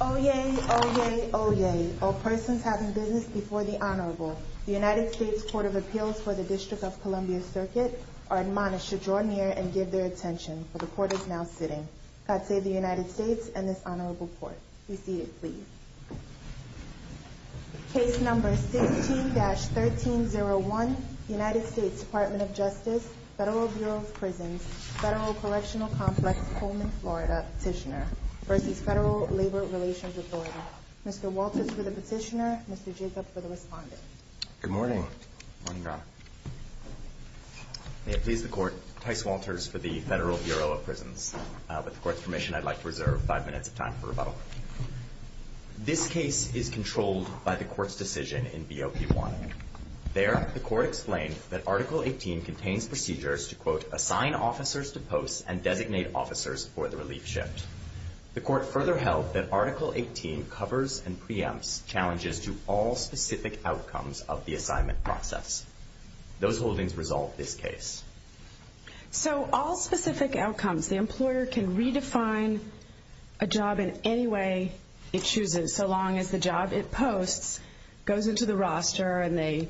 Oyez, oyez, oyez, all persons having business before the Honorable, the United States Court of Appeals for the District of Columbia Circuit, are admonished to draw near and give their attention, for the Court is now sitting. God save the United States and this Honorable Court. Be seated, please. Case number 16-1301, United States Department of Justice, Federal Bureau of Prisons, Federal Collectional Complex, Coleman, Florida, Petitioner v. Federal Labor Relations Authority. Mr. Walters for the Petitioner, Mr. Jacob for the Respondent. Good morning. May it please the Court, Tice Walters for the Federal Bureau of Prisons. With the Court's permission, I'd like to reserve five minutes of time for rebuttal. This case is controlled by the Court's decision in BOP-1. There, the Court explained that Article 18 contains procedures to, quote, assign officers to posts and designate officers for the relief shift. The Court further held that Article 18 covers and preempts challenges to all specific outcomes of the assignment process. Those holdings resolve this case. So all specific outcomes, the employer can redefine a job in any way it chooses, so long as the job it posts goes into the roster and they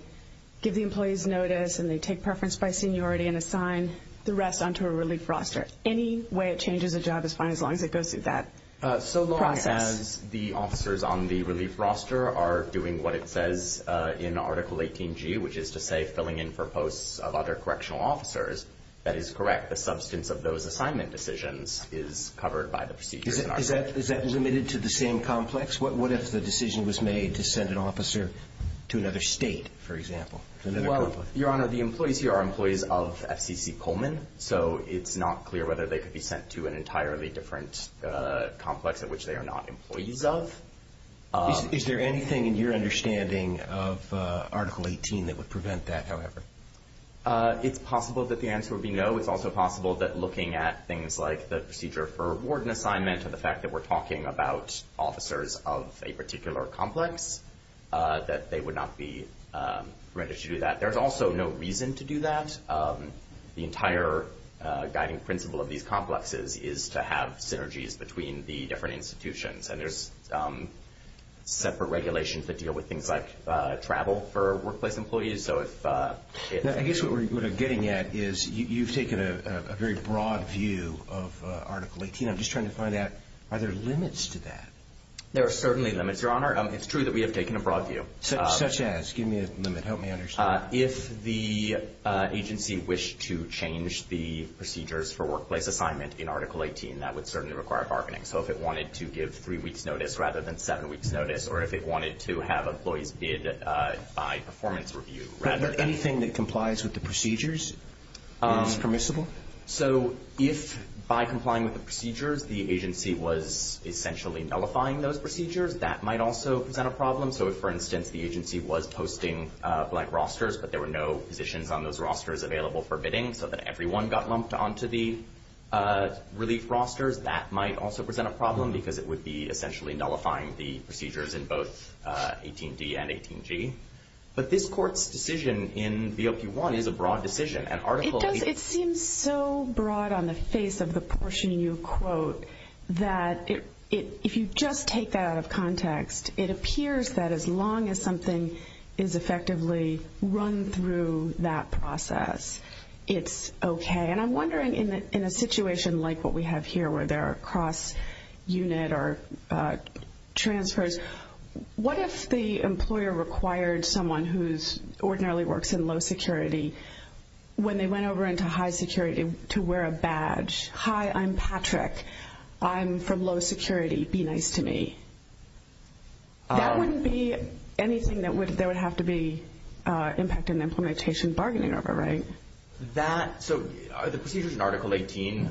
give the employees notice and they take preference by seniority and assign the rest onto a relief roster. Any way it changes a job is fine as long as it goes through that process. So long as the officers on the relief roster are doing what it says in Article 18G, which is to say filling in for posts of other correctional officers, that is correct. The substance of those assignment decisions is covered by the procedure. Is that limited to the same complex? What if the decision was made to send an officer to another state, for example? Well, Your Honor, the employees here are employees of FCC Pullman, so it's not clear whether they could be sent to an entirely different complex at which they are not employees of. Is there anything in your understanding of Article 18 that would prevent that, however? It's possible that the answer would be no. It's also possible that looking at things like the procedure for warden assignment and the fact that we're talking about officers of a particular complex, that they would not be permitted to do that. There's also no reason to do that. The entire guiding principle of these complexes is to have synergies between the different institutions, and there's separate regulations that deal with things like travel for workplace employees. So if... I guess what we're getting at is you've taken a very broad view of Article 18. I'm just trying to find out, are there limits to that? There are certainly limits, Your Honor. It's true that we have taken a broad view. Such as? Give me a limit. Help me understand. If the agency wished to change the procedures for workplace assignment in Article 18, that would certainly require bargaining. So if it wanted to give three weeks' notice rather than seven weeks' notice, or if it wanted to have employees bid by performance review rather than... Anything that complies with the procedures is permissible? So if, by complying with the procedures, the agency was essentially nullifying those procedures, that might also present a problem. So if, for instance, the agency was posting black rosters, but there were no positions on those rosters available for bidding so that everyone got lumped onto the relief rosters, that might also present a problem because it would be essentially nullifying the procedures in both 18d and 18g. But this Court's decision in BLP-1 is a broad decision, and Article 18... It seems so broad on the face of the It appears that as long as something is effectively run through that process, it's okay. And I'm wondering, in a situation like what we have here, where there are cross-unit or transfers, what if the employer required someone who ordinarily works in low security, when they went over into high security, to wear a badge? Hi, I'm Patrick. I'm from low security. Be nice to me. That wouldn't be anything that there would have to be impact in implementation bargaining over, right? So are the procedures in Article 18...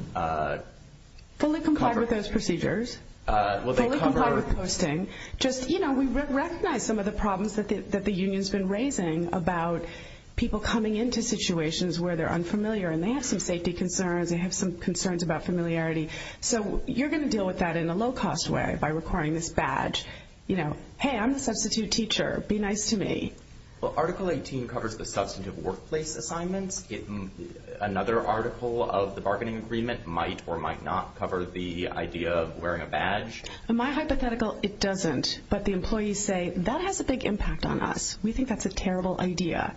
Fully comply with those procedures. Fully comply with posting. Just, you know, we recognize some of the problems that the union's been raising about people coming into situations where they're unfamiliar and they have some safety concerns, they have some concerns about familiarity. So you're going to deal with that in a low-cost way, by requiring this badge. You know, hey, I'm the substitute teacher. Be nice to me. Well, Article 18 covers the substantive workplace assignments. Another article of the bargaining agreement might or might not cover the idea of wearing a badge. My hypothetical, it doesn't. But the employees say, that has a big impact on us. We think that's a terrible idea.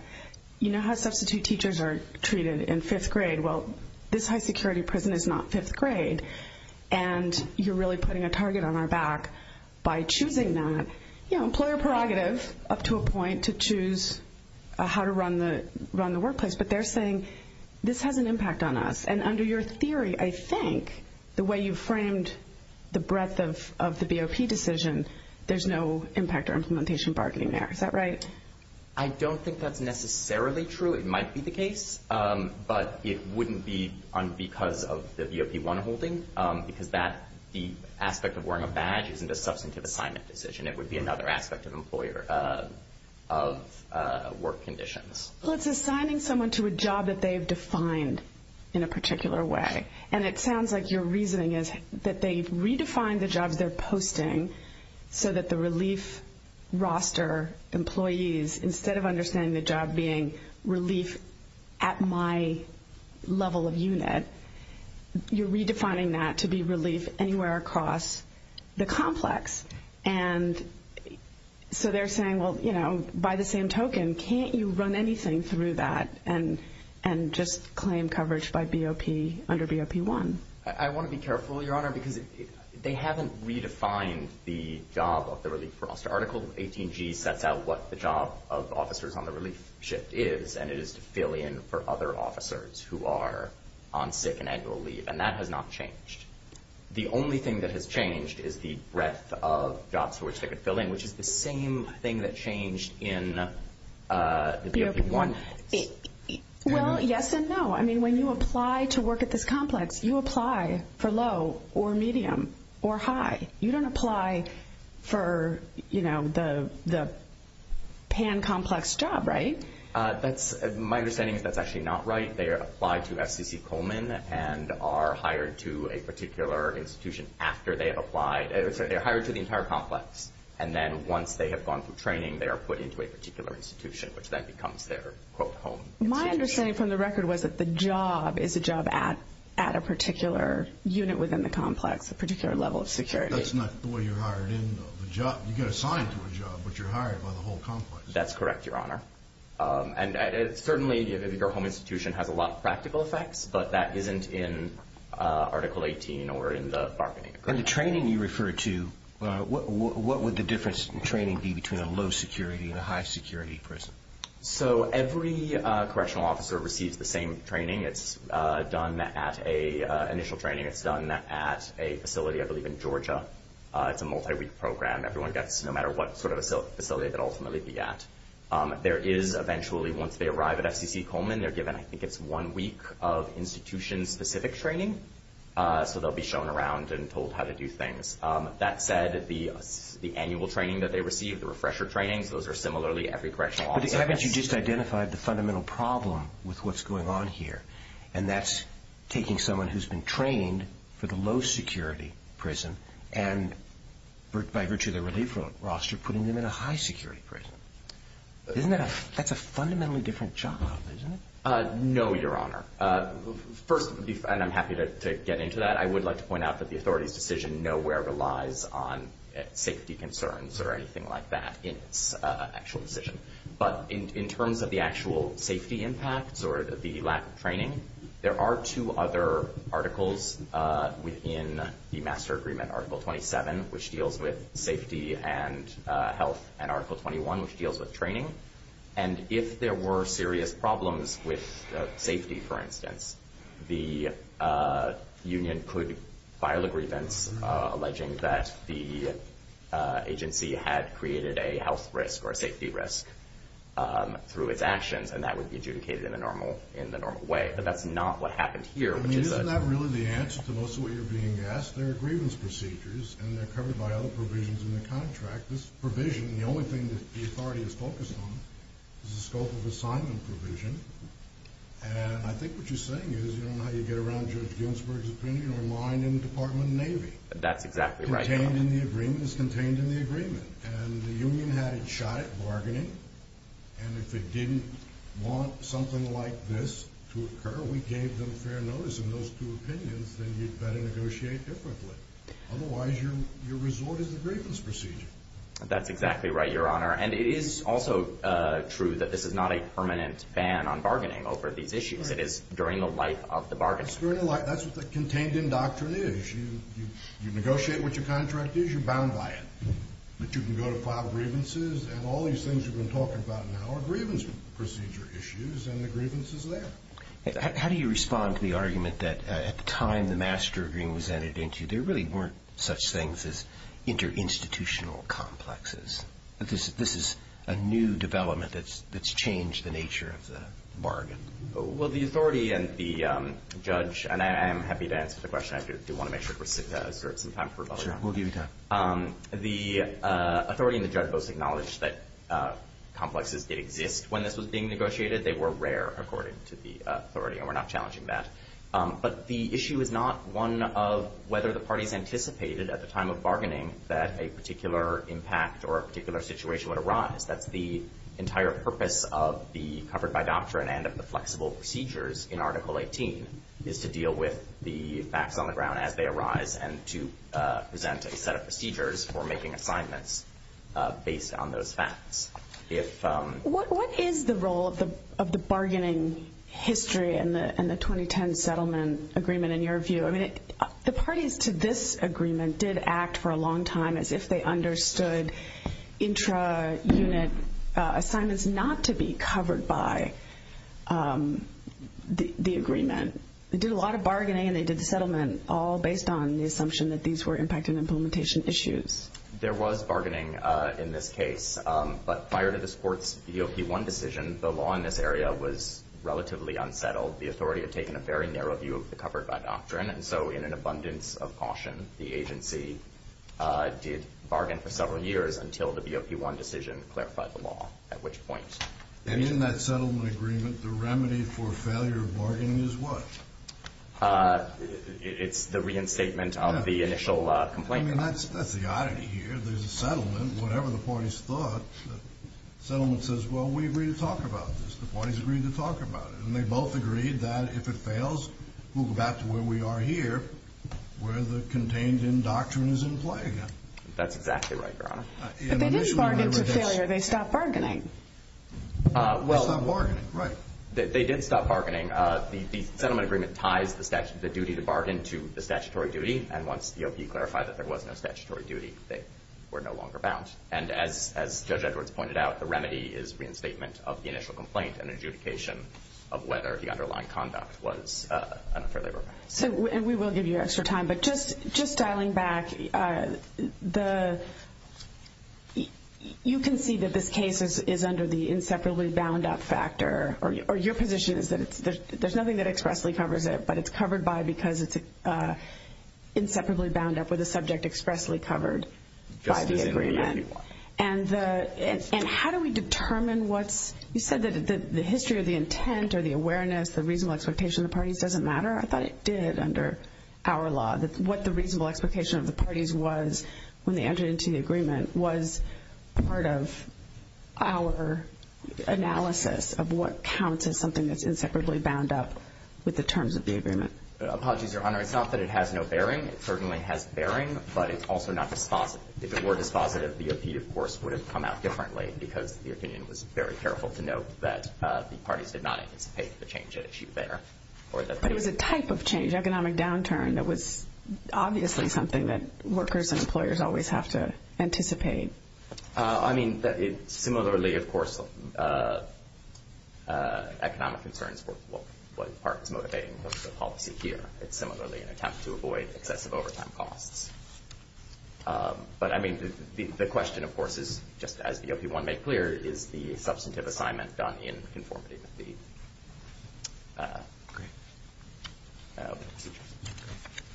You know how substitute teachers are treated in fifth grade. Well, this high security prison is not fifth grade. And you're really putting a target on our back by choosing that. You know, employer prerogative up to a point to choose how to run the workplace. But they're saying this has an impact on us. And under your theory, I think, the way you framed the breadth of the BOP decision, there's no impact or implementation bargaining there. Is that right? I don't think that's necessarily true. It might be the case. But it wouldn't be because of the BOP 1 holding. Because that, the aspect of wearing a badge isn't a substantive assignment decision. It would be another aspect of employer of work conditions. Well, it's assigning someone to a job that they've defined in a particular way. And it sounds like your reasoning is that they've redefined the jobs they're posting so that the relief roster employees, instead of understanding the job being relief at my level of unit, you're redefining that to be relief anywhere across the complex. And so they're saying, well, you know, by the same token, can't you run anything through that and just claim coverage by BOP under BOP 1? I want to be careful, Your Honor, because they haven't redefined the job of the relief roster. Article 18G sets out what the job of officers on the relief shift is. And it is to fill in for other officers who are on sick and annual leave. And that has not changed. The only thing that has changed is the breadth of jobs for which they could fill in, which is the same thing that changed in the BOP 1. Well, yes and no. I mean, when you apply to work at this complex, you apply for low or medium or high. You don't apply for the pan-complex job, right? My understanding is that's actually not right. They are applied to FCC Coleman and are hired to a particular institution after they have applied. They're hired to the entire complex. And then once they have gone through training, they are put into a particular institution, which then becomes their, quote, home. My understanding from the record was that the job is a job at a particular unit within the complex, a particular level of security. That's not the way you're hired in, though. You get assigned to a job, but you're hired by the whole complex. That's correct, Your Honor. And certainly, your home institution has a lot of practical effects, but that isn't in Article 18 or in the bargaining agreement. And the training you refer to, what would the difference in training be between a low security and a high security prison? So every correctional officer receives the same training. It's done at an initial training. It's done at a facility, I believe, in Georgia. It's a multi-week program. Everyone gets, no matter what sort of facility, they'll ultimately be at. There is eventually, once they arrive at FCC Coleman, they're given, I think it's one week of institution-specific training. So they'll be shown around and told how to do things. That said, the annual training that they receive, the refresher trainings, those are similarly every correctional officer gets. But haven't you just identified the fundamental problem with what's going on here? And that's taking someone who's been trained for the low security prison and, by virtue of the relief roster, putting them in a high security prison. That's a fundamentally different job, isn't it? No, Your Honor. First, and I'm happy to get into that, I would like to point out that the actual decision. But in terms of the actual safety impacts or the lack of training, there are two other articles within the master agreement, Article 27, which deals with safety and health, and Article 21, which deals with training. And if there were serious problems with safety, for instance, the union could file a grievance alleging that the agency had created health risk or safety risk through its actions, and that would be adjudicated in the normal way. But that's not what happened here. I mean, isn't that really the answer to most of what you're being asked? There are grievance procedures, and they're covered by other provisions in the contract. This provision, the only thing that the authority is focused on, is the scope of assignment provision. And I think what you're saying is, you don't know how you get around Judge Ginsburg's opinion, you're lying in the Department of Navy. That's exactly right, Your Honor. The agreement is contained in the agreement, and the union had it shot at bargaining. And if it didn't want something like this to occur, we gave them fair notice in those two opinions, then you'd better negotiate differently. Otherwise, your resort is a grievance procedure. That's exactly right, Your Honor. And it is also true that this is not a permanent ban on bargaining over these issues. It is during the life of the bargaining. That's what the contained in doctrine is. You negotiate what your contract is, you're bound by it. But you can go to file grievances, and all these things you've been talking about now are grievance procedure issues, and the grievance is there. How do you respond to the argument that at the time the master agreement was entered into, there really weren't such things as inter-institutional complexes? This is a new development that's changed the nature of the bargain. Well, the authority and the judge, and I am happy to answer the question, I do want to make sure we're secured some time for rebuttal. Sure, we'll give you time. The authority and the judge both acknowledged that complexes did exist when this was being negotiated. They were rare, according to the authority, and we're not challenging that. But the issue is not one of whether the parties anticipated at the time of bargaining that a particular impact or a particular situation would arise. That's the entire purpose of the doctrine and of the flexible procedures in Article 18, is to deal with the facts on the ground as they arise and to present a set of procedures for making assignments based on those facts. What is the role of the bargaining history in the 2010 settlement agreement, in your view? The parties to this agreement did act for a long time as if they understood intra-unit assignments not to be covered by the agreement. They did a lot of bargaining and they did the settlement all based on the assumption that these were impact and implementation issues. There was bargaining in this case, but prior to this court's BOP-1 decision, the law in this area was relatively unsettled. The authority had taken a very narrow view of the covered-by doctrine, and so in an abundance of caution, the agency did bargain for several years until the BOP-1 decision clarified the law at which point. And in that settlement agreement, the remedy for failure of bargaining is what? It's the reinstatement of the initial complaint. I mean, that's the oddity here. There's a settlement, whatever the parties thought. The settlement says, well, we agree to talk about this. The parties agreed to talk about it, and they both agreed that if it fails, we'll go back to where we are here, where the contained-in doctrine is in play again. That's exactly right, Your Honor. But they didn't bargain to failure. They stopped bargaining. They stopped bargaining, right. They did stop bargaining. The settlement agreement ties the duty to bargain to the statutory duty, and once the BOP clarified that there was no statutory duty, they were no longer bound. And as Judge Edwards pointed out, the remedy is reinstatement of the initial complaint and adjudication of whether the underlying conduct was an unfair labor offense. So, and we will give you extra time, but just dialing back, you can see that this case is under the inseparably bound up factor, or your position is that there's nothing that expressly covers it, but it's covered by because it's inseparably bound up with a subject expressly covered by the agreement. And how do we determine what's, you said that the history or the intent or the awareness, the reasonable expectation of the parties was when they entered into the agreement was part of our analysis of what counts as something that's inseparably bound up with the terms of the agreement? Apologies, Your Honor. It's not that it has no bearing. It certainly has bearing, but it's also not dispositive. If it were dispositive, the BOP, of course, would have come out differently because the opinion was very careful to note that the parties did not anticipate the change at issue there. But it was a type of change, economic downturn, that was obviously something that workers and employers always have to anticipate. I mean, similarly, of course, economic concerns for what part is motivating the policy here. It's similarly an attempt to avoid excessive overtime costs. But I mean, the question, of course, is just as the OP1 made clear, is the substantive assignment done in conformity with the agreement.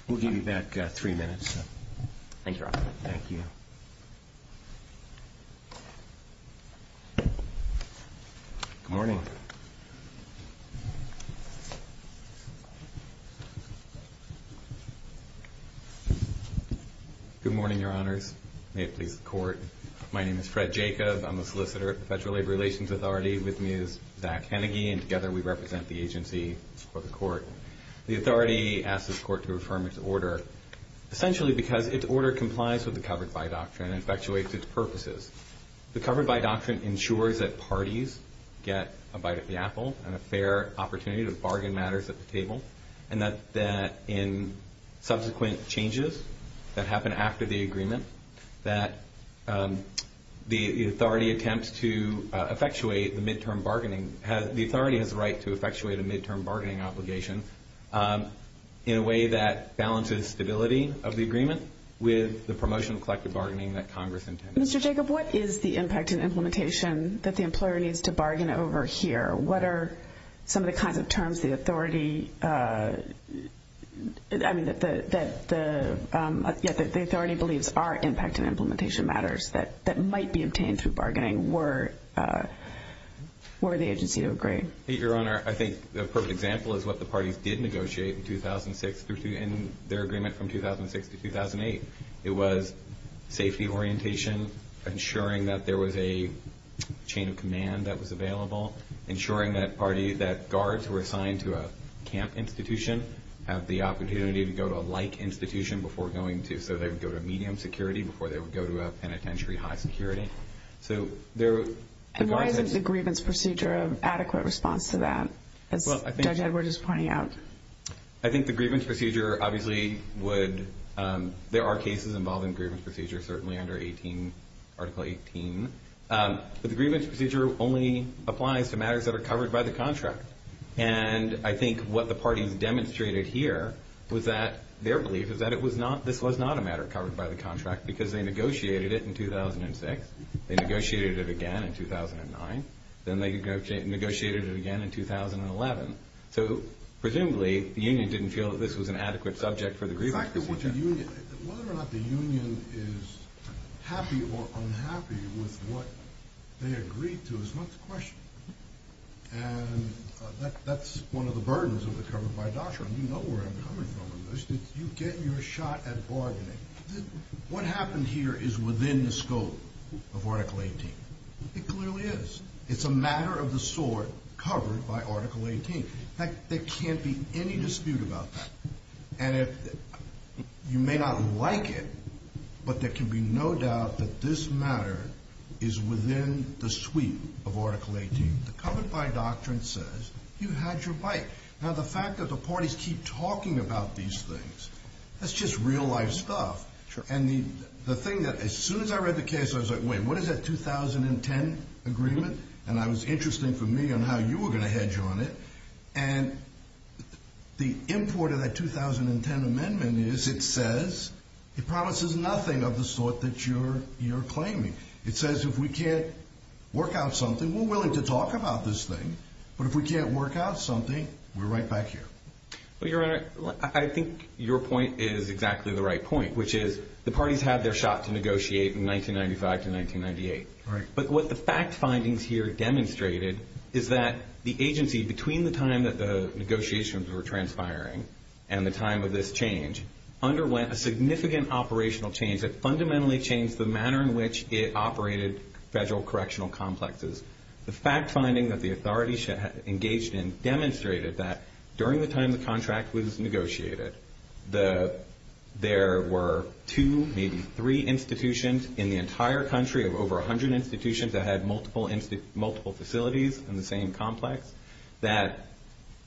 We'll give you back three minutes. Thank you, Your Honor. Thank you. Good morning. Good morning, Your Honors. May it please the Court. My name is Fred Jacob. I'm a solicitor at the Federal Labor Relations Authority with Ms. Zach Hennigy, and together we represent the agency for the Court. The authority asks the Court to affirm its order, essentially because its order complies with the covered by doctrine and effectuates its purposes. The covered by doctrine ensures that parties get a bite of the apple and a fair opportunity to bargain matters at the table, and that in subsequent changes that happen after the agreement, that the authority attempts to effectuate the midterm bargaining. The authority has the right to effectuate a midterm bargaining obligation in a way that balances stability of the agreement with the promotion of collective bargaining that Congress intended. Mr. Jacob, what is the impact and implementation that the employer needs to bargain over here? What are some of the kinds of terms the authority believes are impact and implementation matters that might be obtained through bargaining were the agency to agree? Your Honor, I think the perfect example is what the parties did negotiate in their agreement from 2006 to 2008. It was safety orientation, ensuring that there was a chain of command that was available, ensuring that guards who were assigned to a camp institution have the opportunity to go to a like institution before going to, so they would go to medium security before they would go to a penitentiary high security. And why isn't the grievance procedure an adequate response to that, as Judge Edward is pointing out? I think the grievance procedure obviously would, there are cases involving grievance procedure, certainly under Article 18, but the grievance procedure only applies to matters that are covered by the contract. And I think what the parties demonstrated here was that their belief is that this was not a contract because they negotiated it in 2006, they negotiated it again in 2009, then they negotiated it again in 2011. So presumably, the union didn't feel that this was an adequate subject for the grievance procedure. The fact that the union, whether or not the union is happy or unhappy with what they agreed to is not the question. And that's one of the burdens of the covered by doctrine. You know where I'm coming from. You get your shot at bargaining. What happened here is within the scope of Article 18. It clearly is. It's a matter of the sort covered by Article 18. There can't be any dispute about that. And you may not like it, but there can be no doubt that this matter is within the sweep of Article 18. The covered by doctrine says you had your bite. Now the fact that the parties keep talking about these things, that's just real life stuff. And the thing that, as soon as I read the case, I was like, wait, what is that 2010 agreement? And it was interesting for me on how you were going to hedge on it. And the import of that 2010 amendment is it says, it promises nothing of the sort that you're claiming. It says if we can't work out something, we're willing to talk about this thing. But if we can't work out something, we're right back here. Well, Your Honor, I think your point is exactly the right point, which is the parties had their shot to negotiate in 1995 to 1998. But what the fact findings here demonstrated is that the agency between the time that the negotiations were transpiring and the time of this change underwent a significant operational change that fundamentally changed the manner in which it operated federal correctional complexes. The fact finding that the authorities engaged in demonstrated that during the time the contract was negotiated, that there were two, maybe three institutions in the entire country of over a hundred institutions that had multiple facilities in the same complex, that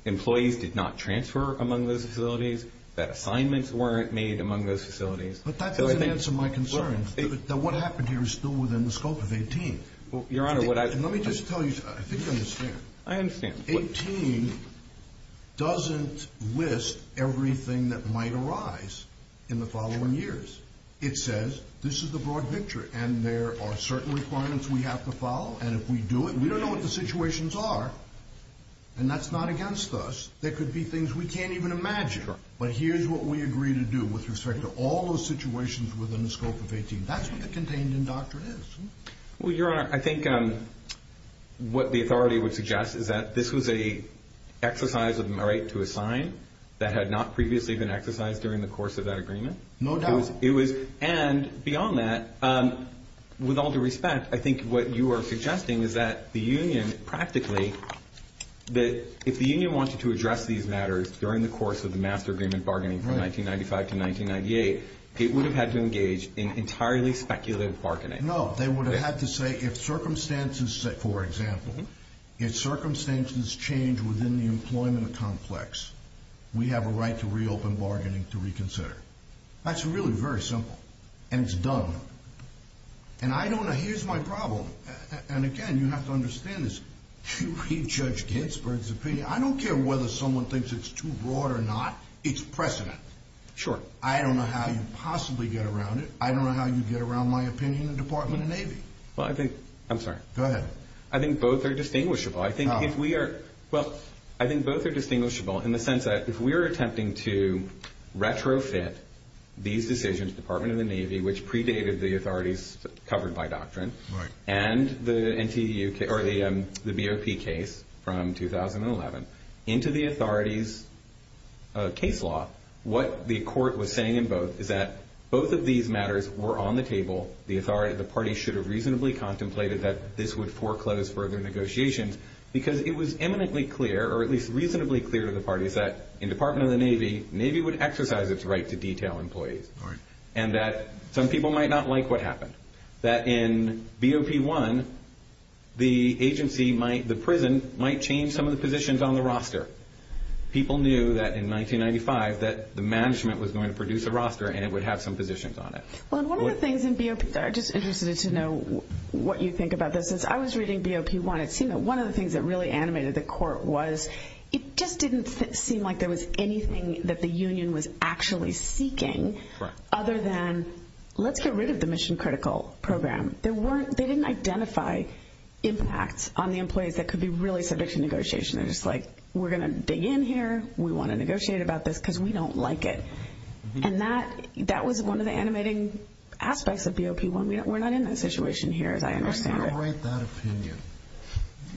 employees did not transfer among those facilities, that assignments weren't made among those facilities. But that doesn't answer my concern, that what happened here is still within the scope of 18. Well, Your Honor, what I... Let me just tell you, I think you understand. I understand. 18 doesn't list everything that might arise in the following years. It says this is the broad picture and there are certain requirements we have to follow. And if we do it, we don't know what the situations are. And that's not against us. There could be things we can't even imagine. But here's what we agree to do with respect to all those situations within the scope of 18. That's what the contained in doctrine is. Well, Your Honor, I think what the authority would suggest is that this was a exercise of my right to assign that had not previously been exercised during the course of that agreement. No doubt. And beyond that, with all due respect, I think what you are suggesting is that the union, practically, that if the union wanted to address these matters during the course of the master agreement bargaining from 1995 to 1998, it would have had to engage in entirely speculative bargaining. No, they would have had to say, if circumstances... For example, if circumstances change within the employment complex, we have a right to reopen bargaining to reconsider. That's really very simple. And it's done. And I don't know... Here's my problem. And again, you have to understand this. You read Judge Ginsburg's opinion. I don't care whether someone thinks it's too broad or not. It's precedent. Sure. I don't know how you possibly get around it. I don't know how you get around my opinion in the Department of Navy. Well, I think... I'm sorry. Go ahead. I think both are distinguishable. I think if we are... Well, I think both are distinguishable in the sense that if we're attempting to retrofit these decisions, Department of the Navy, which predated the authorities covered by doctrine and the BOP case from 2011 into the authorities case law, what the court was saying in both is that both of these matters were on the table. The authority of the party should have reasonably contemplated that this would foreclose further negotiations because it was eminently clear, or at least reasonably clear to the parties that in Department of the Navy, Navy would exercise its right to detail employees. Right. And that some people might not like what happened. That in BOP1, the agency might... The prison might change some of the positions on the roster. People knew that in 1995 that the management was going to produce a roster and it would have some positions on it. Well, and one of the things in BOP... Sorry. I'm just interested to know what you think about this. Since I was reading BOP1, it seemed that one of the things that really animated the court was it just didn't seem like there was anything that the union was actually seeking other than, let's get rid of the mission critical program. There weren't... On the employees that could be really subject to negotiation, they're just like, we're going to dig in here. We want to negotiate about this because we don't like it. And that was one of the animating aspects of BOP1. We're not in that situation here, as I understand it. How are you going to write that opinion?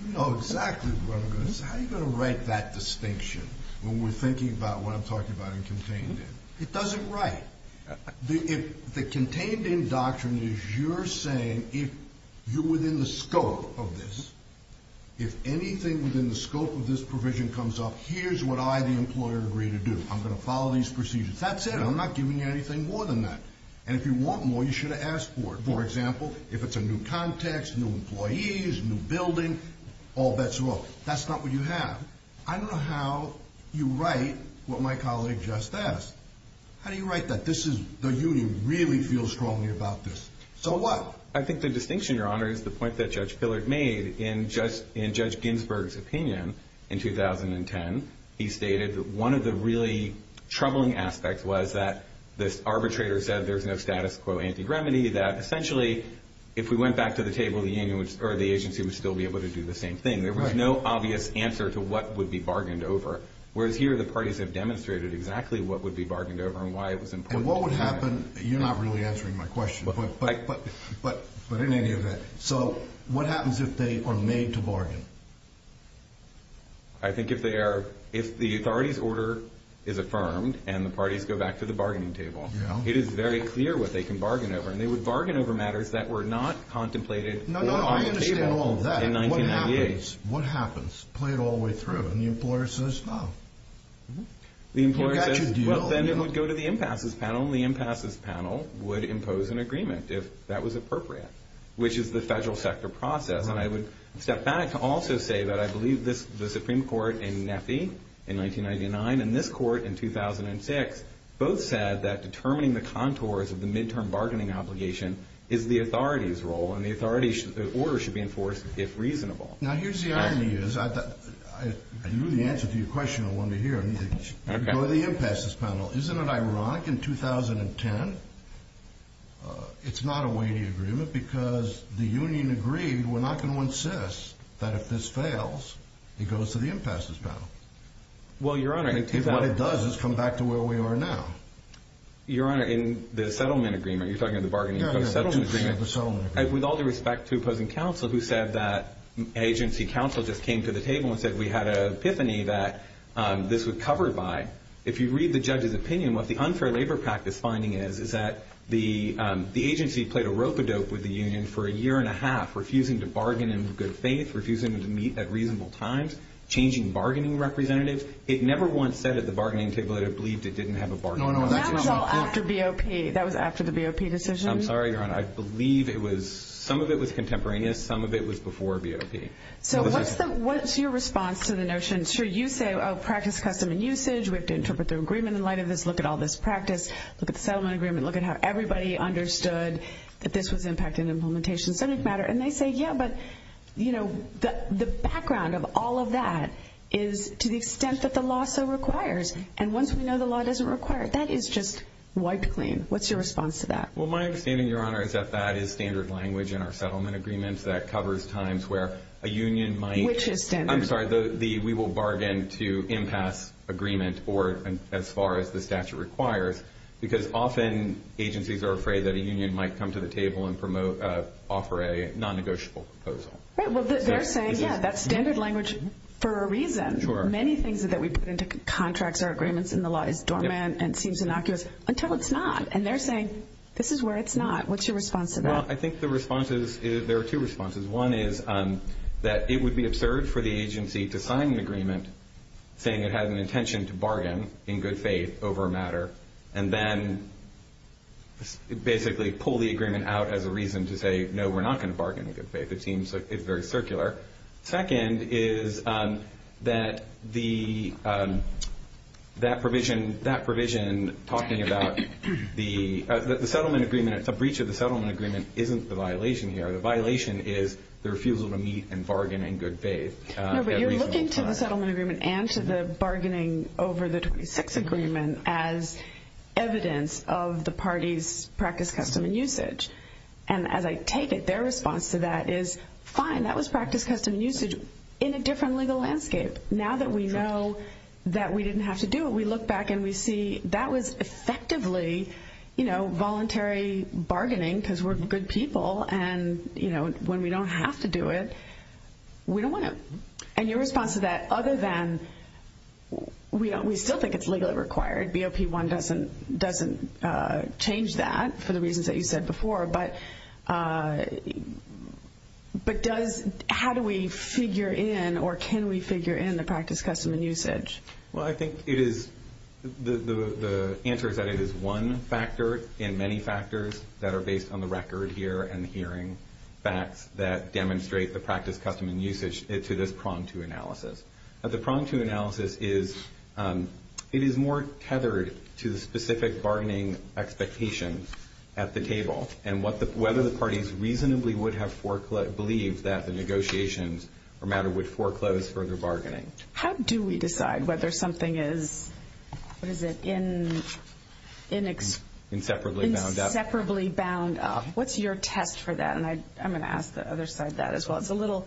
You know exactly what I'm going to say. How are you going to write that distinction when we're thinking about what I'm talking about in contained in? It doesn't write. The contained in doctrine is you're saying if you're within the scope of this, if anything within the scope of this provision comes up, here's what I, the employer, agree to do. I'm going to follow these procedures. That's it. I'm not giving you anything more than that. And if you want more, you should have asked for it. For example, if it's a new context, new employees, new building, all bets are off. That's not what you have. I don't know how you write what my colleague just asked. How do you write that? The union really feels strongly about this. So what? I think the distinction, Your Honor, is the point that Judge Pillard made in Judge Ginsburg's opinion in 2010. He stated that one of the really troubling aspects was that this arbitrator said there's no status quo anti-gremedy, that essentially if we went back to the table, the agency would still be able to do the same thing. There was no obvious answer to what would be bargained over. Whereas here, the parties have demonstrated exactly what would be bargained over and why it was important. What would happen? You're not really answering my question. But in any event, so what happens if they are made to bargain? I think if the authority's order is affirmed and the parties go back to the bargaining table, it is very clear what they can bargain over. And they would bargain over matters that were not contemplated or on the table in 1998. What happens? Play it all the way through. And the employer says, no. The employer says, well, then it would go to the impasses panel. And the impasses panel would impose an agreement if that was appropriate, which is the federal sector process. And I would step back to also say that I believe the Supreme Court in NEPI in 1999 and this court in 2006 both said that determining the contours of the midterm bargaining obligation is the authority's role. And the authority's order should be enforced if reasonable. Now, here's the irony is, I knew the answer to your question. I wanted to hear it. Okay. Go to the impasses panel. Isn't it ironic in 2010, it's not a weighty agreement because the union agreed, we're not going to insist that if this fails, it goes to the impasses panel. Well, Your Honor, I mean, What it does is come back to where we are now. Your Honor, in the settlement agreement, you're talking about the bargaining No, no, I don't have a settlement agreement. With all due respect to opposing counsel who said that agency counsel just came to the table and said, we had an epiphany that this would cover it by. If you read the judge's opinion, what the unfair labor practice finding is, is that the agency played a rope-a-dope with the union for a year and a half, refusing to bargain in good faith, refusing to meet at reasonable times, changing bargaining representatives. It never once said at the bargaining table that it believed it didn't have a bargaining. That was all after BOP. That was after the BOP decision. I'm sorry, Your Honor. I believe it was, some of it was contemporaneous. Some of it was before BOP. So what's the, what's your response to the notion? Sure, you say, oh, practice, custom, and usage. We have to interpret the agreement in light of this. Look at all this practice. Look at the settlement agreement. Look at how everybody understood that this was impact and implementation subject matter. And they say, yeah, but, you know, the background of all of that is to the extent that the law so requires. And once we know the law doesn't require it, that is just wiped clean. What's your response to that? Well, my understanding, Your Honor, is that that is standard language in our settlement agreements that covers times where a union might. Which is standard. I'm sorry, the, we will bargain to impasse agreement or as far as the statute requires, because often agencies are afraid that a union might come to the table and promote, offer a non-negotiable proposal. Right, well, they're saying, yeah, that's standard language for a reason. Many things that we put into contracts or agreements in the law is dormant and seems until it's not. And they're saying, this is where it's not. What's your response to that? Well, I think the response is, there are two responses. One is that it would be absurd for the agency to sign an agreement saying it had an intention to bargain in good faith over a matter. And then basically pull the agreement out as a reason to say, no, we're not going to bargain in good faith. It seems, it's very circular. Second is that the, that provision, that provision talking about the settlement agreement, it's a breach of the settlement agreement, isn't the violation here. The violation is the refusal to meet and bargain in good faith. No, but you're looking to the settlement agreement and to the bargaining over the 26 agreement as evidence of the party's practice, custom, and usage. And as I take it, their response to that is, fine, that was practice, custom, and usage in a different legal landscape. Now that we know that we didn't have to do it, we look back and we see that was effectively voluntary bargaining because we're good people. And when we don't have to do it, we don't want to. And your response to that, other than we still think it's legally required, BOP1 doesn't change that for the reasons that you said before. But does, how do we figure in, or can we figure in the practice, custom, and usage? Well, I think it is, the answer is that it is one factor in many factors that are based on the record here and hearing facts that demonstrate the practice, custom, and usage to this prong two analysis. The prong two analysis is, it is more tethered to the specific bargaining expectation at the table and whether the parties reasonably would have believed that the negotiations or matter would foreclose further bargaining. How do we decide whether something is, what is it, inseparably bound up? What's your test for that? And I'm going to ask the other side that as well. It's a little,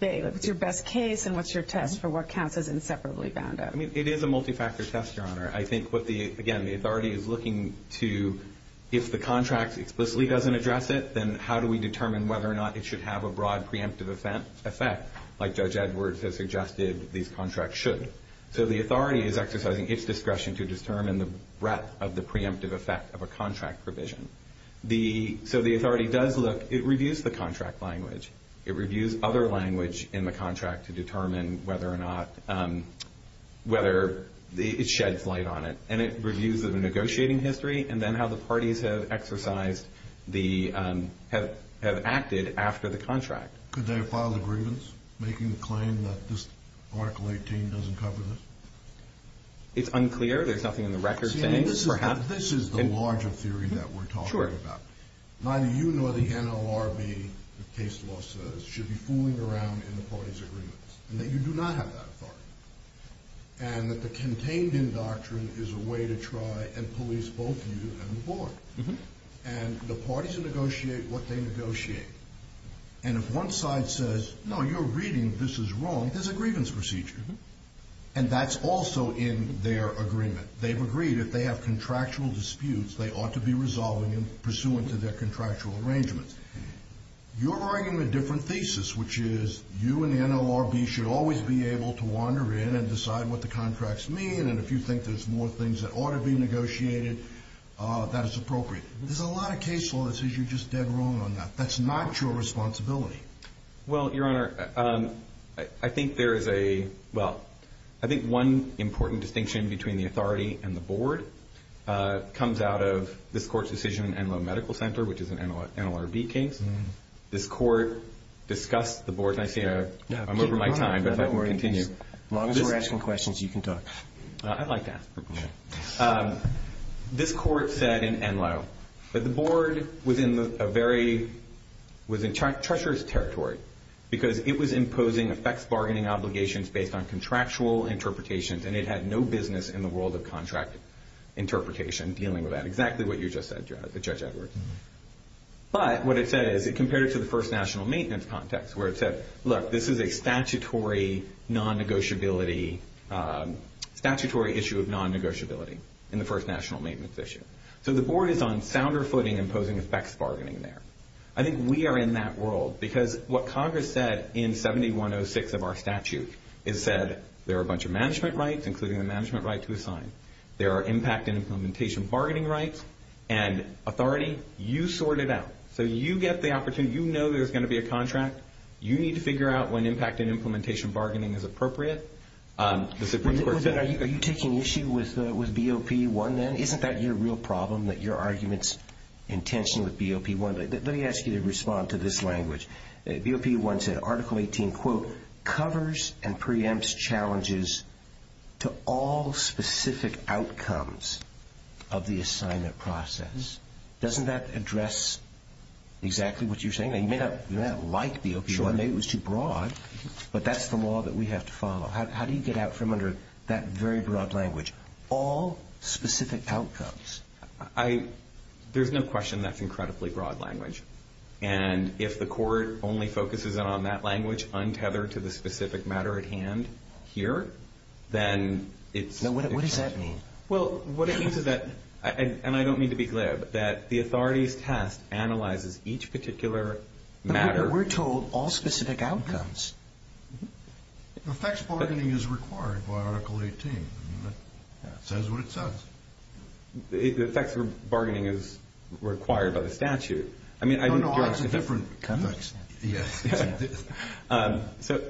it's your best case and what's your test for what counts as inseparably bound up? It is a multi-factor test, Your Honor. I think what the, again, the authority is looking to, if the contract explicitly doesn't address it, then how do we determine whether or not it should have a broad preemptive effect, like Judge Edwards has suggested these contracts should? So the authority is exercising its discretion to determine the breadth of the preemptive effect of a contract provision. So the authority does look, it reviews the contract language. It reviews other language in the contract to determine whether or not, whether it sheds light on it. And it reviews the negotiating history and then how the parties have exercised the, have acted after the contract. Could they have filed a grievance making the claim that this Article 18 doesn't cover this? It's unclear. There's nothing in the record saying, perhaps. This is the larger theory that we're talking about. Neither you nor the NLRB, the case law says, should be fooling around in the party's agreements, and that you do not have that authority. And that the contained in doctrine is a way to try and police both you and the board. And the parties negotiate what they negotiate. And if one side says, no, you're reading this is wrong, there's a grievance procedure. And that's also in their agreement. They've agreed if they have contractual disputes, they ought to be resolving them pursuant to their contractual arrangements. You're arguing a different thesis, which is you and the NLRB should always be able to wander in and decide what the contracts mean. And if you think there's more things that ought to be negotiated, that it's appropriate. There's a lot of case law that says you're just dead wrong on that. That's not your responsibility. Well, Your Honor, I think there is a, well, I think one important distinction between the authority and the board comes out of this court's decision in Enloe Medical Center, which is an NLRB case. This court discussed the board, and I see I'm over my time, but if I can continue. As long as we're asking questions, you can talk. I'd like to ask a question. This court said in Enloe that the board was in a very, was in treacherous territory. Because it was imposing effects bargaining obligations based on contractual interpretations, and it had no business in the world of contract interpretation dealing with that. Exactly what you just said, Judge Edwards. But what it said is it compared it to the First National Maintenance context, where it said, look, this is a statutory non-negotiability, statutory issue of non-negotiability in the First National Maintenance issue. So the board is on sounder footing imposing effects bargaining there. I think we are in that world, because what Congress said in 7106 of our statute, it said there are a bunch of management rights, including the management right to assign. There are impact and implementation bargaining rights, and authority, you sort it out. So you get the opportunity, you know there's going to be a contract, you need to figure out when impact and implementation bargaining is appropriate. Are you taking issue with BOP1 then? Isn't that your real problem, that your argument's with BOP1. Let me ask you to respond to this language. BOP1 said Article 18, quote, covers and preempts challenges to all specific outcomes of the assignment process. Doesn't that address exactly what you're saying? You may not like BOP1, maybe it was too broad, but that's the law that we have to follow. How do you get out from under that very broad language, all specific outcomes? There's no question that's incredibly broad language. And if the court only focuses on that language, untethered to the specific matter at hand here, then it's... No, what does that mean? Well, what it means is that, and I don't mean to be glib, that the authorities test analyzes each particular matter... We're told all specific outcomes. The effects bargaining is required by Article 18. It says what it says. The effects bargaining is required by the statute. I mean... No, no, it's a different context. So,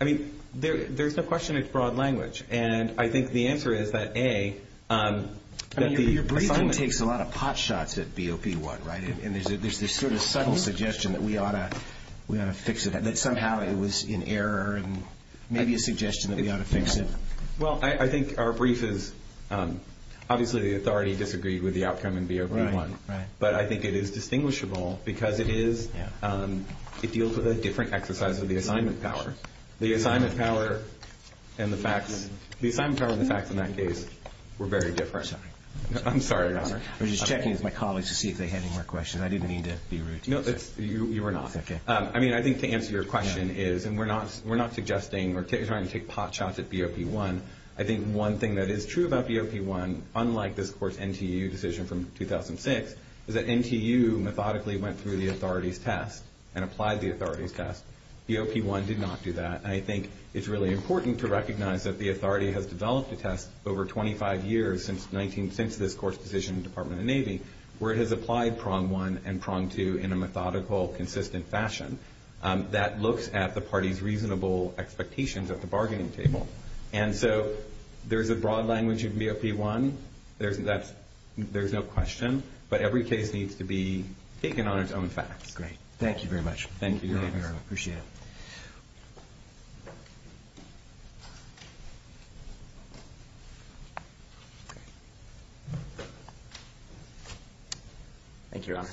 I mean, there's no question it's broad language. And I think the answer is that A, that the assignment... I mean, your briefing takes a lot of pot shots at BOP1, right? And there's this sort of subtle suggestion that we ought to fix it, that somehow it was in error, and maybe a suggestion that we ought to fix it. Well, I think our brief is... Obviously, the authority disagreed with the outcome in BOP1, but I think it is distinguishable because it deals with a different exercise of the assignment power. The assignment power and the facts in that case were very different. Sorry. I'm sorry, Your Honor. I was just checking with my colleagues to see if they had any more questions. I didn't need to be rude to you. You were not. I mean, I think to answer your question is... And we're not suggesting or trying to take pot shots at BOP1. I think one thing that is true about BOP1, unlike this court's NTU decision from 2006, is that NTU methodically went through the authority's test and applied the authority's test. BOP1 did not do that. And I think it's really important to recognize that the authority has developed a test over 25 years since this court's decision in the methodical, consistent fashion that looks at the party's reasonable expectations at the bargaining table. And so, there's a broad language in BOP1. There's no question. But every case needs to be taken on its own facts. Great. Thank you very much. Thank you, Your Honor. I appreciate it. Thank you, Your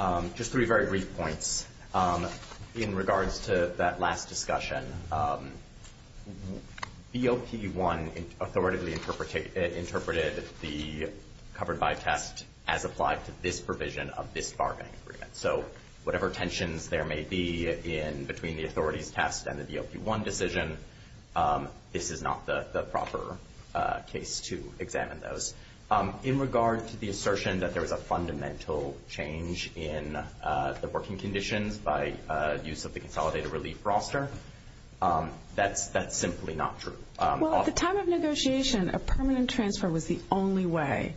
Honors. Just three very brief points in regards to that last discussion. BOP1 authoritatively interpreted the covered by test as applied to this provision of this bargaining agreement. So, whatever tensions there may be in between the authority's test and the BOP1 decision, this is not the proper case to examine those. In regard to the assertion that there was a fundamental change in the working conditions by use of the consolidated relief roster, that's simply not true. Well, at the time of negotiation, a permanent transfer was the only way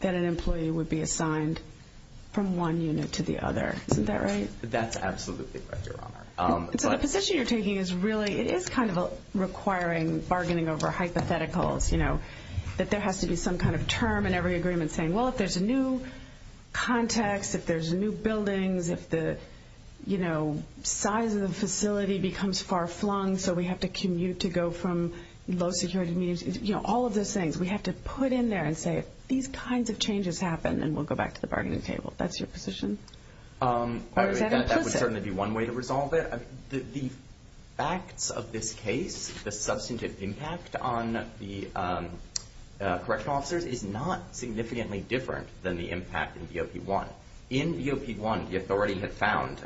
that an employee would be assigned from one unit to the other. Isn't that right? That's absolutely correct, Your Honor. So, the position you're taking is really, it is kind of requiring bargaining over hypotheticals, that there has to be some kind of term in every agreement saying, well, if there's a new context, if there's new buildings, if the size of the facility becomes far flung, so we have to commute to go from low security meetings, all of those things, we have to put in there and say, if these kinds of changes happen, then we'll go back to the bargaining table. That's your position? Or is that implicit? That would certainly be one way to resolve it. The facts of this case, the substantive impact on the correctional officers is not significantly different than the impact in BOP-1. In BOP-1, the authority had found,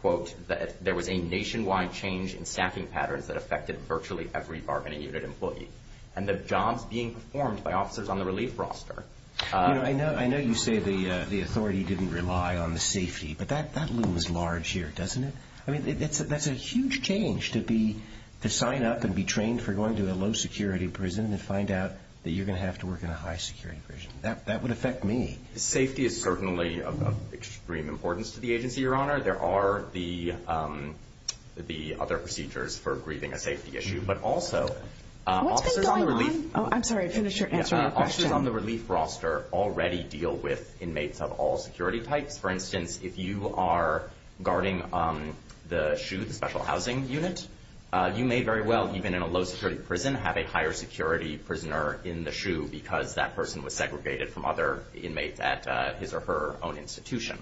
quote, that there was a nationwide change in staffing patterns that affected virtually every bargaining unit employee. And the jobs being performed by officers on the relief roster... I know you say the authority didn't rely on the safety, but that looms large here, doesn't it? That's a huge change to sign up and be trained for going to a low-security prison and find out that you're going to have to work in a high-security prison. That would affect me. Safety is certainly of extreme importance to the agency, Your Honor. There are the other procedures for grieving a safety issue, but also... What's been going on? I'm sorry. I finished answering your question. Officers on the relief roster already deal with inmates of all security types. For instance, if you are guarding the SHU, the special housing unit, you may very well, even in a low-security prison, have a higher-security prisoner in the SHU because that person was segregated from other inmates at his or her own institution.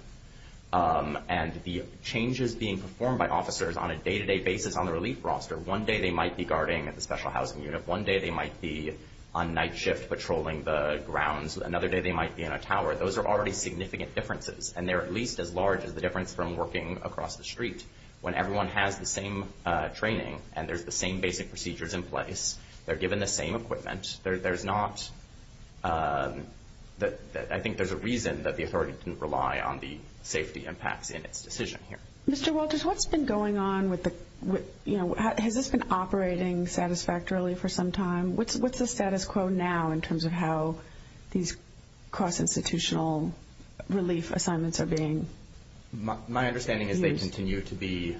And the changes being performed by officers on a day-to-day basis on the relief roster... One day, they might be guarding the special housing unit. One day, they might be on night shift patrolling the grounds. Another day, they might be in a tower. Those are already large as the difference from working across the street. When everyone has the same training and there's the same basic procedures in place, they're given the same equipment, there's not... I think there's a reason that the authority didn't rely on the safety impacts in its decision here. Mr. Walters, what's been going on with the... Has this been operating satisfactorily for some time? What's the status quo now in terms of how these cross-institutional relief assignments are being used? My understanding is they continue to be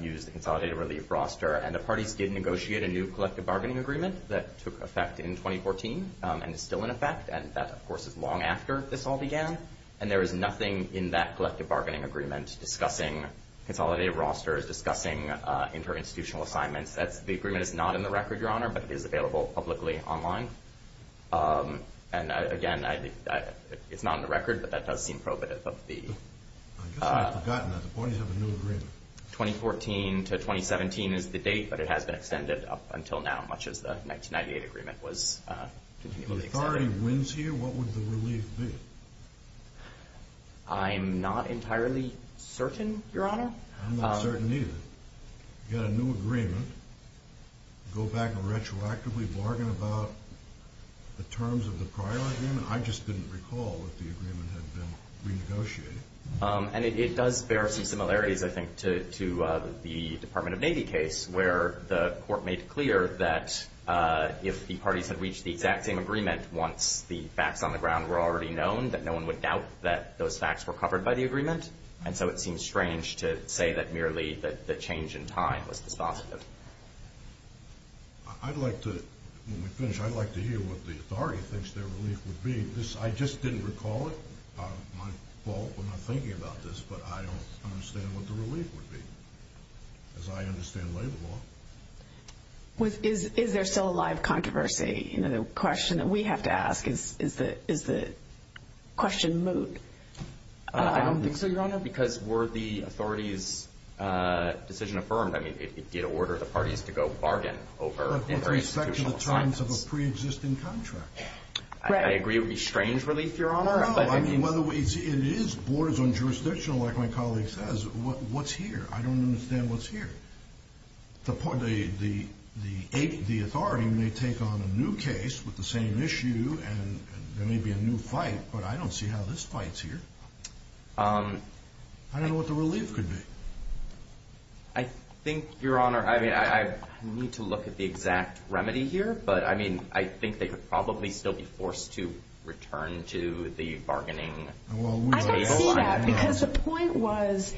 used in the consolidated relief roster. And the parties did negotiate a new collective bargaining agreement that took effect in 2014 and is still in effect. And that, of course, is long after this all began. And there is nothing in that collective bargaining agreement discussing consolidated rosters, discussing inter-institutional assignments. The agreement is not in the record, Your Honor, but it is available publicly online. And again, it's not in the record, but that does seem probative of the... I guess I've forgotten that. The parties have a new agreement. 2014 to 2017 is the date, but it has been extended up until now, much as the 1998 agreement was... If the authority wins here, what would the relief be? I'm not entirely certain, Your Honor. I'm not certain either. Get a new agreement, go back and retroactively bargain about the terms of the prior agreement? I just didn't recall that the agreement had been renegotiated. And it does bear some similarities, I think, to the Department of Navy case where the court made clear that if the parties had reached the exact same agreement once the facts on the ground were already known, that no one would doubt that those facts were covered by the agreement. And so it seems strange to say that merely that change in time was the sponsor. I'd like to... When we finish, I'd like to hear what the authority thinks their relief would be. I just didn't recall it. My fault for not thinking about this, but I don't understand what the relief would be, as I understand labor law. Is there still a live controversy? The question that we have to ask is, is the question moot? I don't think so, Your Honor, because were the authority's decision affirmed, I mean, it did order the parties to go bargain over... With respect to the terms of a pre-existing contract. I agree it would be strange relief, Your Honor. No, I mean, it is borders on jurisdictional, like my colleague says. What's here? I don't understand what's here. The authority may take on a new case with the same issue and there may be a new fight, but I don't see how this fights here. I don't know what the relief could be. I think, Your Honor, I mean, I need to look at the exact remedy here, but I mean, I think they could probably still be forced to return to the bargaining table. I don't see that, because the point was,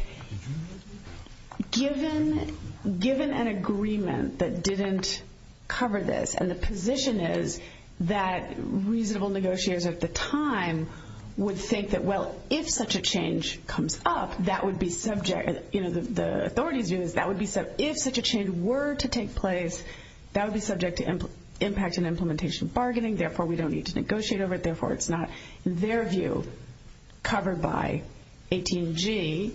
given an agreement that didn't cover this, and the position is that reasonable negotiators at the time would think that, well, if such a change comes up, that would be subject... The authority's view is that would be... If such a change were to take place, that would be subject to impact and implementation bargaining. Therefore, we don't need to negotiate over it. Therefore, it's not their view covered by 18G.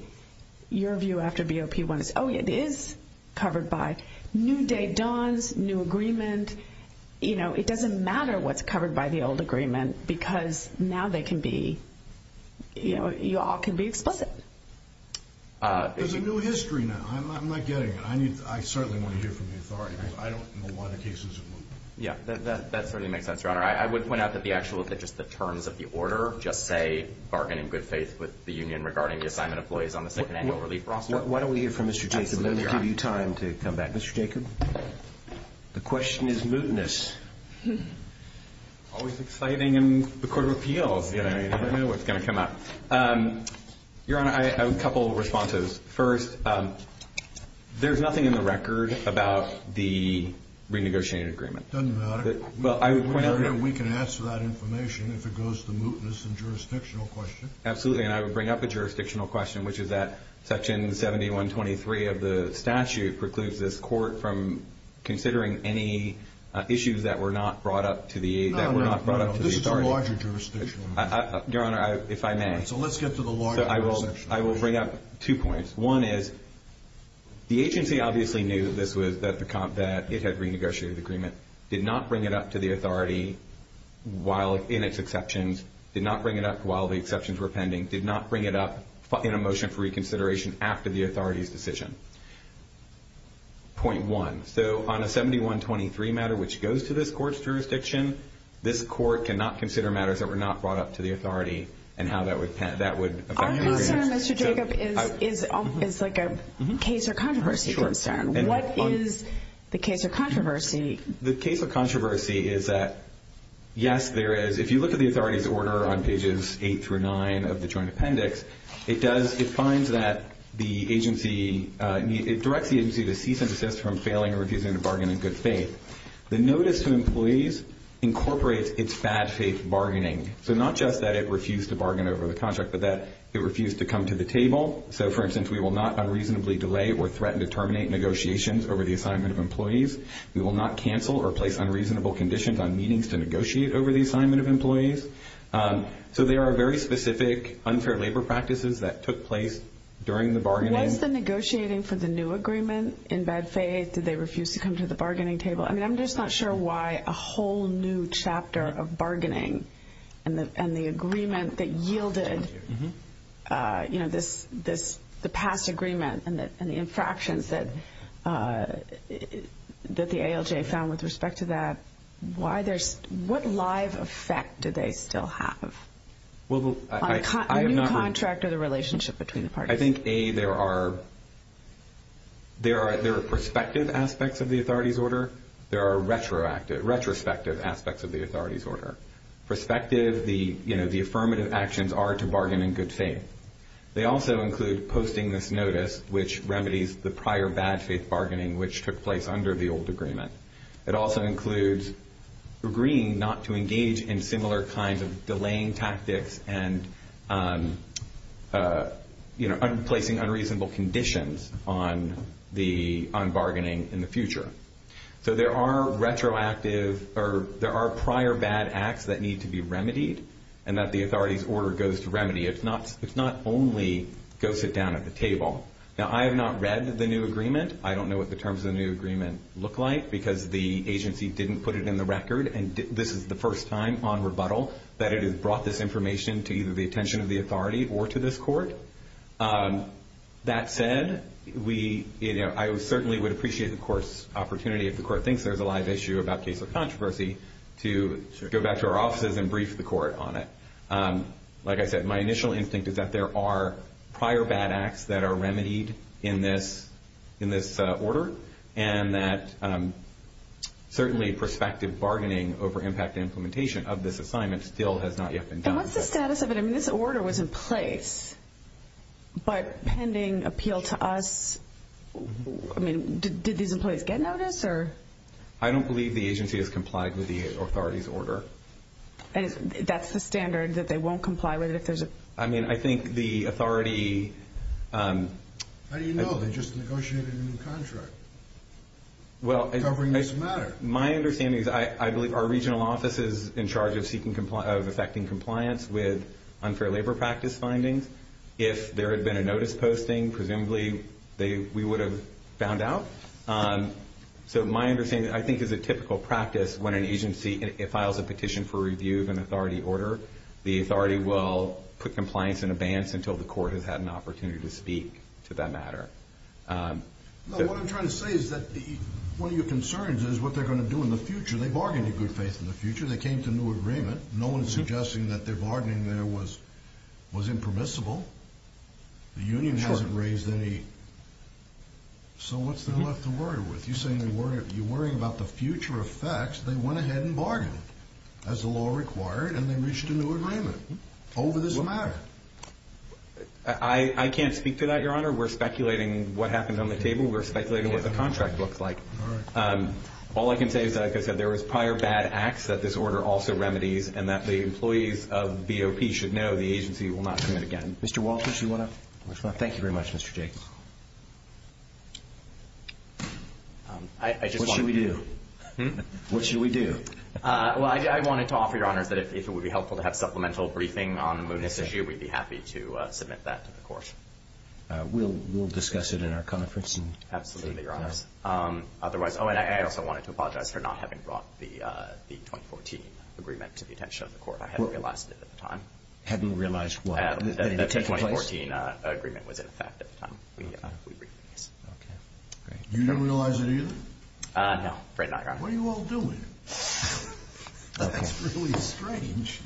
Your view after BOP1 is, oh, it is covered by new day dawns, new agreement. It doesn't matter what's covered by the old agreement, because now they can be... You all can be explicit. There's a new history now. I'm not getting it. I certainly want to hear from the authority, because I don't know why the case is removed. Yeah, that certainly makes sense, Your Honor. I would point out that the actual, just the terms of the order, just say, with the union regarding the assignment of employees on the second annual relief process. Why don't we hear from Mr. Jacob, and then we'll give you time to come back. Mr. Jacob? The question is mootness. Always exciting in the Court of Appeals. You never know what's going to come up. Your Honor, a couple of responses. First, there's nothing in the record about the renegotiated agreement. Doesn't matter. Well, I would point out that... We can answer that information if it goes to mootness and jurisdictional question. Absolutely, and I would bring up a jurisdictional question, which is that section 7123 of the statute precludes this court from considering any issues that were not brought up to the... No, no, no. This is a larger jurisdictional matter. Your Honor, if I may. All right, so let's get to the larger section. I will bring up two points. One is, the agency obviously knew that it had renegotiated the agreement, did not bring it up to the authority in its exceptions, did not bring it up while the exceptions were pending, did not bring it up in a motion for reconsideration after the authority's decision. Point one, so on a 7123 matter which goes to this court's jurisdiction, this court cannot consider matters that were not brought up to the authority, and how that would affect... Our concern, Mr. Jacob, is like a case or controversy concern. What is the case or controversy? The case or controversy is that, yes, there is... If you look at the authority's order on pages 8 through 9 of the joint appendix, it does... It finds that the agency... It directs the agency to cease and desist from failing or refusing to bargain in good faith. The notice to employees incorporates its bad faith bargaining. So not just that it refused to bargain over the contract, but that it refused to come to the table. So for instance, we will not unreasonably delay or threaten to terminate negotiations over the assignment of employees. We will not cancel or place unreasonable conditions on meetings to negotiate over the assignment of employees. So there are very specific unfair labor practices that took place during the bargaining. Was the negotiating for the new agreement in bad faith? Did they refuse to come to the bargaining table? I mean, I'm just not sure why a whole new chapter of bargaining and the agreement that infractions that the ALJ found with respect to that, why there's... What live effect do they still have on the new contract or the relationship between the parties? I think, A, there are prospective aspects of the authority's order. There are retrospective aspects of the authority's order. Prospective, the affirmative actions are to bargain in good faith. They also include posting this notice, which remedies the prior bad faith bargaining, which took place under the old agreement. It also includes agreeing not to engage in similar kinds of delaying tactics and placing unreasonable conditions on bargaining in the future. So there are retroactive... Or there are prior bad acts that need to be remedied and that the authority's order goes to remedy. It's not only go sit down at the table. Now, I have not read the new agreement. I don't know what the terms of the new agreement look like because the agency didn't put it in the record. And this is the first time on rebuttal that it has brought this information to either the attention of the authority or to this court. That said, I certainly would appreciate, of course, opportunity if the court thinks there's a live issue about case of controversy to go back to our offices and brief the court on it. Like I said, my initial instinct is that there are prior bad acts that are remedied in this order and that certainly prospective bargaining over impact implementation of this assignment still has not yet been done. And what's the status of it? I mean, this order was in place, but pending appeal to us, I mean, did these employees get notice or...? I don't believe the agency has complied with the authority's order. And that's the standard that they won't comply with it if there's a...? I mean, I think the authority... How do you know? They just negotiated a new contract covering this matter. Well, my understanding is, I believe our regional office is in charge of seeking compliance, of effecting compliance with unfair labor practice findings. If there had been a notice posting, presumably we would have found out. So my understanding, I think, is a typical practice when an agency files a petition for review of an authority order, the authority will put compliance in advance until the court has had an opportunity to speak to that matter. What I'm trying to say is that one of your concerns is what they're going to do in the future. They bargained a good faith in the future. They came to a new agreement. No one's suggesting that their bargaining there was impermissible. The union hasn't raised any... So what's there left to effect? They went ahead and bargained, as the law required, and they reached a new agreement over this matter. I can't speak to that, Your Honor. We're speculating what happened on the table. We're speculating what the contract looks like. All I can say is that, like I said, there was prior bad acts that this order also remedies, and that the employees of BOP should know the agency will not commit again. Mr. Walters, you want to...? Thank you very much, Mr. Jacobs. What should we do? What should we do? Well, I wanted to offer Your Honors that if it would be helpful to have supplemental briefing on the Moody's issue, we'd be happy to submit that to the court. We'll discuss it in our conference. Absolutely, Your Honors. Otherwise... Oh, and I also wanted to apologize for not having brought the 2014 agreement to the attention of the court. I hadn't realized it at the time. Hadn't realized what? That the 2014 agreement was in effect at the time. You didn't realize it either? No, right now, Your Honor. What are you all doing? That's really strange.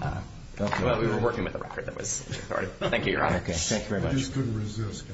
Well, we were working with the record that was recorded. Thank you, Your Honor. Okay, thank you very much. I just couldn't resist.